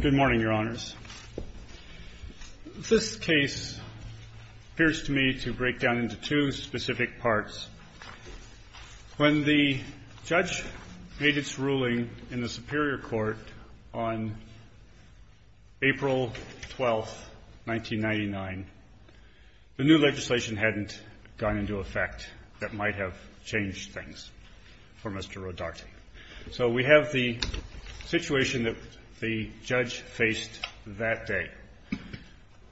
Good morning, Your Honors. This case appears to me to break down into two specific parts. When the judge made its ruling in the Superior Court on April 12, 1999, the new legislation hadn't gone into effect that might have changed things for Mr. Rodarte. So we have the situation that the judge faced that day.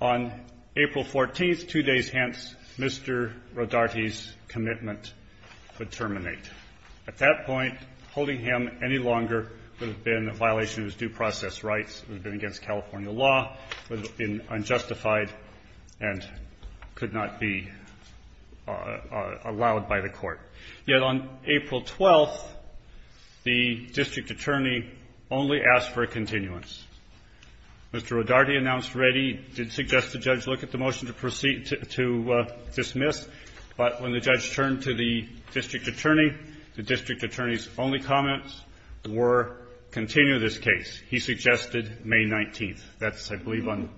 On April 14, two days hence, Mr. Rodarte's commitment would terminate. At that point, holding him any longer would have been a violation of his due process rights, would have been against California law, would have been unjustified and could not be allowed by the Court. Yet on April 12, the district attorney only asked for a continuance. Mr. Rodarte announced ready, did suggest the judge look at the motion to proceed to dismiss, but when the judge turned to the district attorney, the district attorney's only comments were, continue this case. He suggested May 19. That's, I believe, on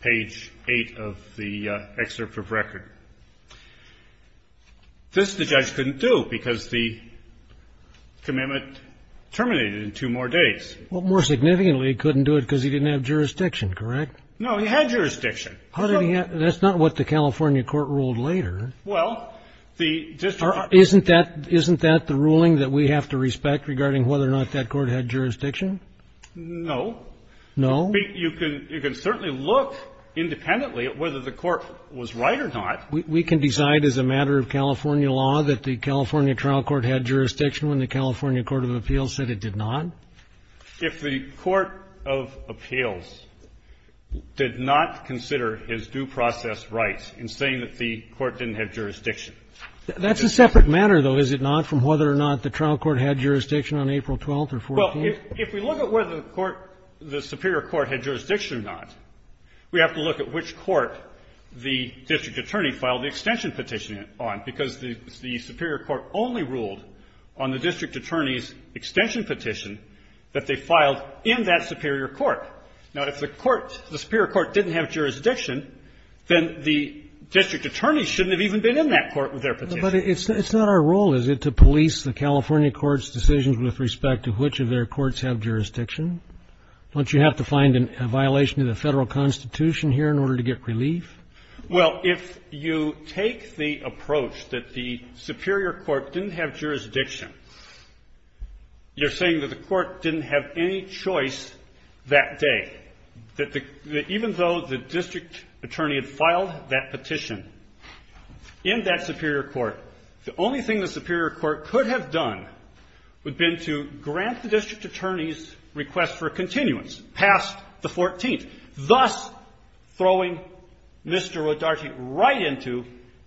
page 8 of the excerpt of record. This the judge couldn't do because the commitment terminated in two more days. Well, more significantly, he couldn't do it because he didn't have jurisdiction, correct? No, he had jurisdiction. How did he have — that's not what the California court ruled later. Well, the district attorney — Isn't that — isn't that the ruling that we have to respect regarding whether or not that court had jurisdiction? No. No? You can certainly look independently at whether the court was right or not. We can decide as a matter of California law that the California trial court had jurisdiction when the California court of appeals said it did not? If the court of appeals did not consider his due process rights in saying that the court didn't have jurisdiction. That's a separate matter, though, is it not, from whether or not the trial court had jurisdiction on April 12th or 14th? Well, if we look at whether the court — the superior court had jurisdiction or not, we have to look at which court the district attorney filed the extension petition on, because the superior court only ruled on the district attorney's extension petition that they filed in that superior court. Now, if the court — the superior court didn't have jurisdiction, then the district attorney shouldn't have even been in that court with their petition. But it's not our role, is it, to police the California court's decisions with respect to which of their courts have jurisdiction? Don't you have to find a violation to the federal Constitution here in order to get relief? Well, if you take the approach that the superior court didn't have jurisdiction, you're saying that the court didn't have any choice that day, that even though the district attorney had filed that petition in that superior court, the only thing the district attorney's request for continuance passed the 14th, thus throwing Mr. Rodarte right into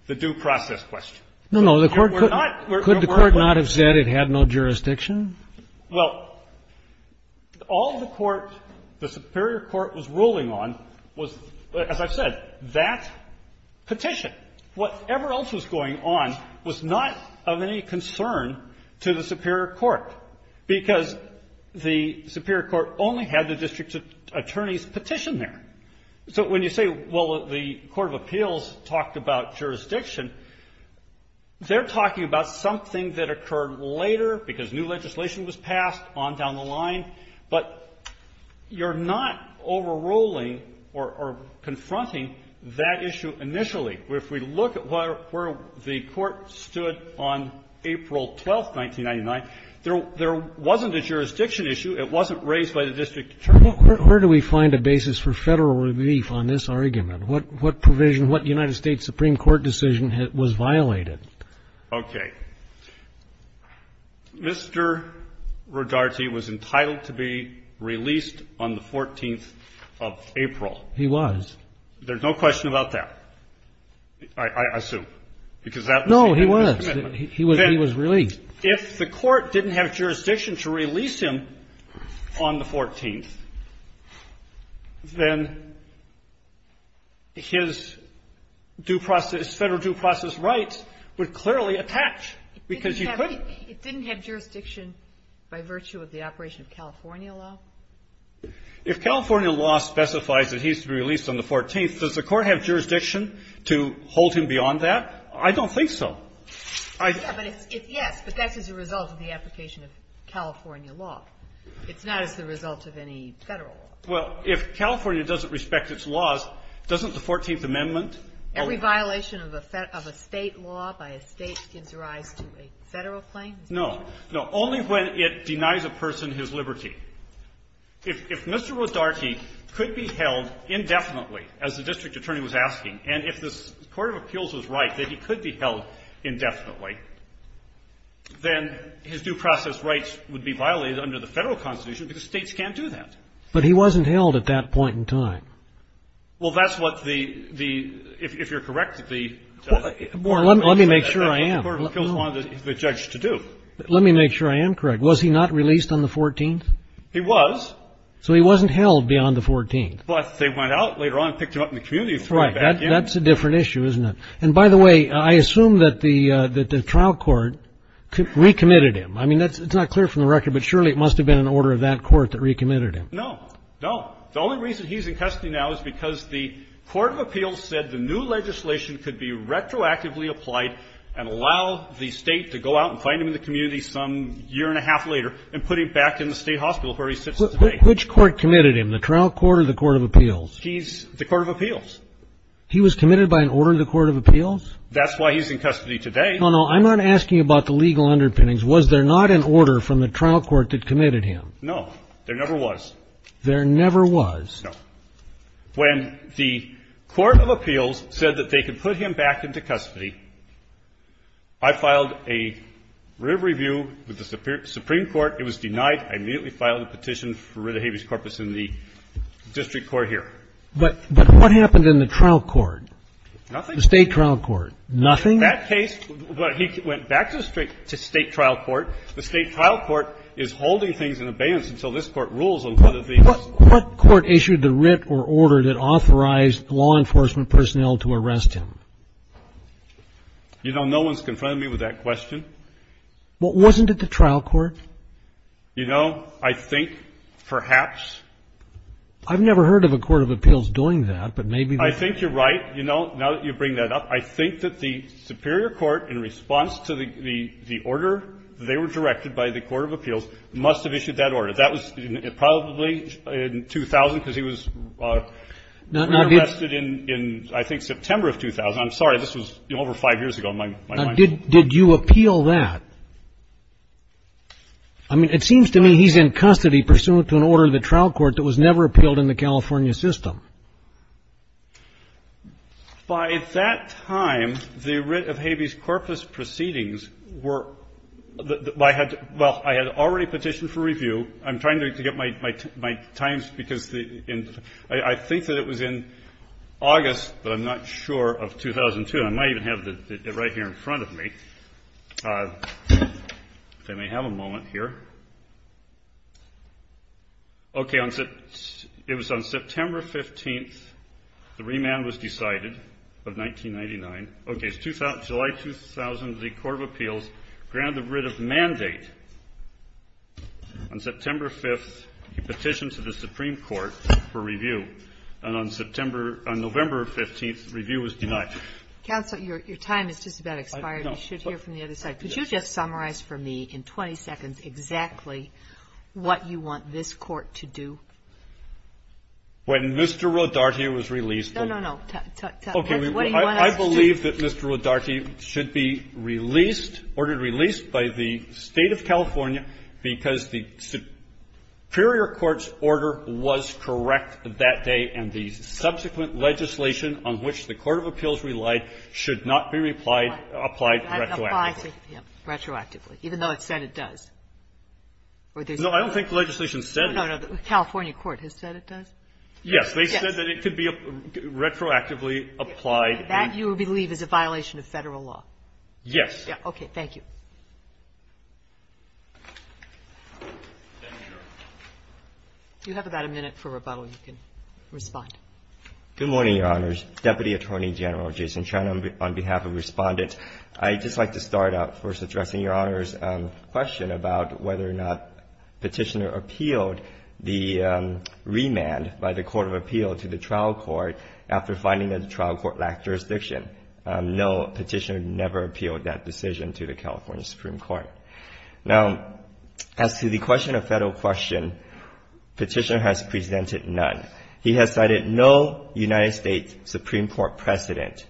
the due process question. No, no. The court could not have said it had no jurisdiction? Well, all the court, the superior court was ruling on was, as I've said, that petition. Whatever else was going on was not of any concern to the superior court, because the superior court only had the district attorney's petition there. So when you say, well, the court of appeals talked about jurisdiction, they're talking about something that occurred later because new legislation was passed on down the line, but you're not overruling or confronting that issue initially. If we look at where the court stood on April 12th, 1999, there wasn't a jurisdiction issue. It wasn't raised by the district attorney. Where do we find a basis for federal relief on this argument? What provision, what United States Supreme Court decision was violated? Okay. Mr. Rodarte was entitled to be released on the 14th of April. He was. There's no question about that. I assume, because that was the agreement. No, he was. He was released. If the court didn't have jurisdiction to release him on the 14th, then his due process, federal due process rights would clearly attach, because you could. It didn't have jurisdiction by virtue of the operation of California law? If California law specifies that he's to be released on the 14th, does the court have jurisdiction to hold him beyond that? I don't think so. I don't think so. But it's yes, but that's as a result of the application of California law. It's not as the result of any Federal law. Well, if California doesn't respect its laws, doesn't the 14th Amendment or the 14th Amendment? Every violation of a State law by a State gives rise to a Federal claim? No. No. Only when it denies a person his liberty. If Mr. Rodarte could be held indefinitely, as the district attorney was asking, and if the Court of Appeals was right that he could be held indefinitely, then his due process rights would be violated under the Federal Constitution, because States can't do that. But he wasn't held at that point in time. Well, that's what the — if you're correct, the Court of Appeals said that's what the Court of Appeals wanted the judge to do. Let me make sure I am correct. Was he not released on the 14th? He was. So he wasn't held beyond the 14th. But they went out later on and picked him up in the community and threw him back in. That's a different issue, isn't it? And by the way, I assume that the trial court recommitted him. I mean, that's — it's not clear from the record, but surely it must have been an order of that court that recommitted him. No. No. The only reason he's in custody now is because the Court of Appeals said the new legislation could be retroactively applied and allow the State to go out and find him in the community some year and a half later and put him back in the State hospital where he sits today. Which court committed him, the trial court or the Court of Appeals? He's — the Court of Appeals. He was committed by an order of the Court of Appeals? That's why he's in custody today. No, no. I'm not asking about the legal underpinnings. Was there not an order from the trial court that committed him? No. There never was. There never was? No. When the Court of Appeals said that they could put him back into custody, I filed a review with the Supreme Court. It was denied. I immediately filed a petition for writ of habeas corpus in the district court here. But what happened in the trial court? Nothing. The State trial court. Nothing? In that case, he went back to the State trial court. The State trial court is holding things in abeyance until this Court rules on whether the — What court issued the writ or order that authorized law enforcement personnel to arrest him? You know, no one's confronted me with that question. Well, wasn't it the trial court? You know, I think perhaps. I've never heard of a Court of Appeals doing that, but maybe — I think you're right, you know, now that you bring that up. I think that the Superior Court, in response to the order they were directed by the Court of Appeals, must have issued that order. That was probably in 2000, because he was arrested in, I think, September of 2000. I'm sorry. This was over five years ago in my mind. Did you appeal that? I mean, it seems to me he's in custody pursuant to an order in the trial court that was never appealed in the California system. By that time, the writ of habeas corpus proceedings were — well, I had already petitioned for review. I'm trying to get my times, because I think that it was in August, but I'm not sure, of 2002. And I might even have it right here in front of me, if I may have a moment here. Okay, it was on September 15th, the remand was decided of 1999. Okay, it's July 2000, the Court of Appeals granted the writ of mandate. On September 5th, he petitioned to the Supreme Court for review, and on September — on November 15th, review was denied. Counsel, your time has just about expired. You should hear from the other side. Could you just summarize for me in 20 seconds exactly what you want this Court to do? When Mr. Rodarte was released from — No, no, no. What do you want us to do? Okay. I believe that Mr. Rodarte should be released, ordered released by the State of California because the superior court's order was correct that day, and the subsequent legislation on which the Court of Appeals relied should not be applied retroactively. Retroactively, even though it said it does? No, I don't think the legislation said it. No, no. The California court has said it does? Yes. They said that it could be retroactively applied. That you believe is a violation of Federal law? Yes. Okay. Thank you. You have about a minute for rebuttal. You can respond. Good morning, Your Honors. Deputy Attorney General Jason Chen on behalf of respondents, I'd just like to start out first addressing Your Honor's question about whether or not Petitioner appealed the remand by the Court of Appeals to the trial court after finding that the trial court lacked jurisdiction. No, Petitioner never appealed that decision to the California Supreme Court. Now, as to the question of Federal question, Petitioner has presented none. He has cited no United States Supreme Court precedent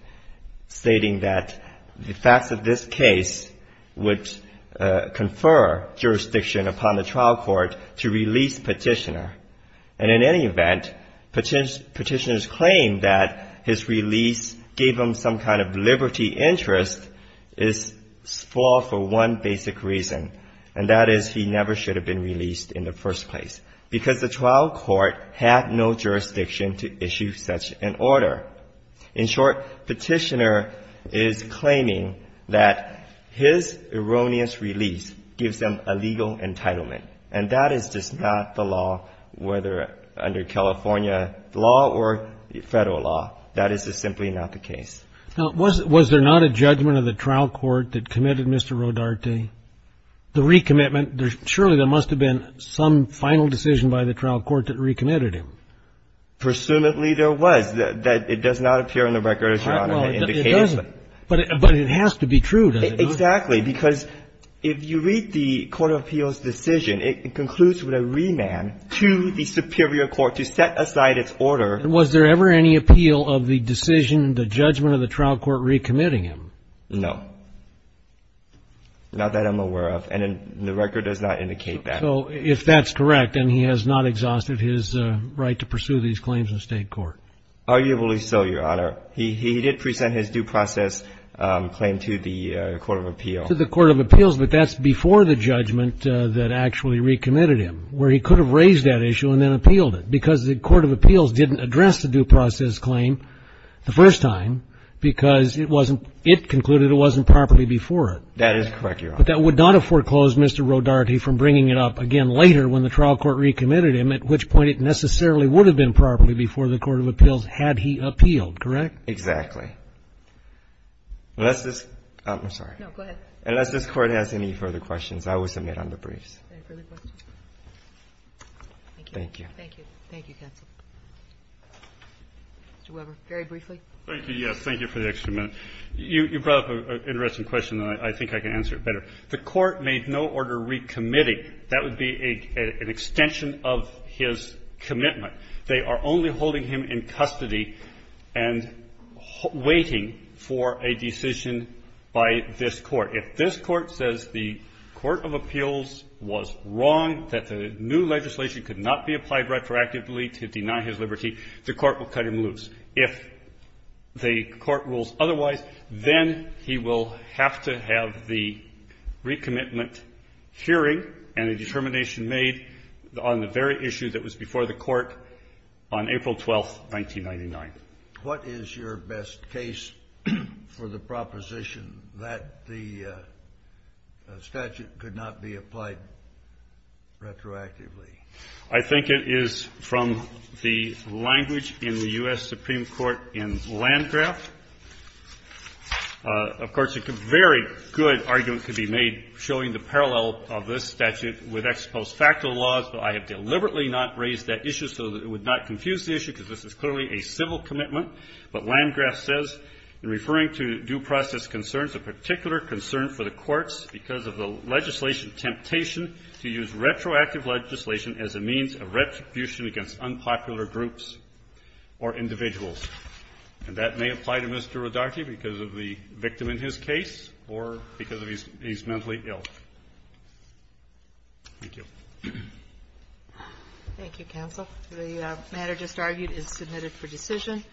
stating that the facts of this case would confer jurisdiction upon the trial court to release Petitioner. And in any event, Petitioner's claim that his release gave him some kind of liberty interest is flawed for one basic reason, and that is he never should have been released in the first place. Because the trial court had no jurisdiction to issue such an order. In short, Petitioner is claiming that his erroneous release gives him a legal entitlement. And that is just not the law, whether under California law or Federal law. That is just simply not the case. Now, was there not a judgment of the trial court that committed Mr. Rodarte? The recommitment, surely there must have been some final decision by the trial court that recommitted him. Presumably there was. It does not appear in the record, Your Honor, that indicates that. But it has to be true, doesn't it? Exactly. Because if you read the court of appeals decision, it concludes with a remand to the superior court to set aside its order. Was there ever any appeal of the decision, the judgment of the trial court recommitting him? No. Not that I'm aware of. And the record does not indicate that. So if that's correct, then he has not exhausted his right to pursue these claims in state court. Arguably so, Your Honor. He did present his due process claim to the court of appeals. To the court of appeals, but that's before the judgment that actually recommitted him, where he could have raised that issue and then appealed it. Because the court of appeals didn't address the due process claim the first time because it wasn't – it concluded it wasn't properly before it. That is correct, Your Honor. But that would not have foreclosed Mr. Rodarte from bringing it up again later when the trial court recommitted him, at which point it necessarily would have been properly before the court of appeals had he appealed. Correct? Exactly. Unless this – I'm sorry. No, go ahead. Unless this Court has any further questions, I will submit under briefs. Any further questions? Thank you. Thank you. Thank you. Thank you, counsel. Mr. Weber, very briefly. Thank you. Yes, thank you for the extra minute. You brought up an interesting question, and I think I can answer it better. The Court made no order recommitting. That would be an extension of his commitment. They are only holding him in custody and waiting for a decision by this Court. If this Court says the court of appeals was wrong, that the new legislation could not be applied retroactively to deny his liberty, the Court will cut him loose. If the Court rules otherwise, then he will have to have the recommitment hearing and a determination made on the very issue that was before the Court on April 12, 1999. What is your best case for the proposition that the statute could not be applied retroactively? I think it is from the language in the U.S. Supreme Court in Landgraf. Of course, a very good argument could be made showing the parallel of this statute with ex post facto laws, but I have deliberately not raised that issue so that it would not confuse the issue, because this is clearly a civil commitment. But Landgraf says, referring to due process concerns, a particular concern for the of retribution against unpopular groups or individuals, and that may apply to Mr. Rodarte because of the victim in his case or because he's mentally ill. Thank you. Thank you, counsel. The matter just argued is submitted for decision.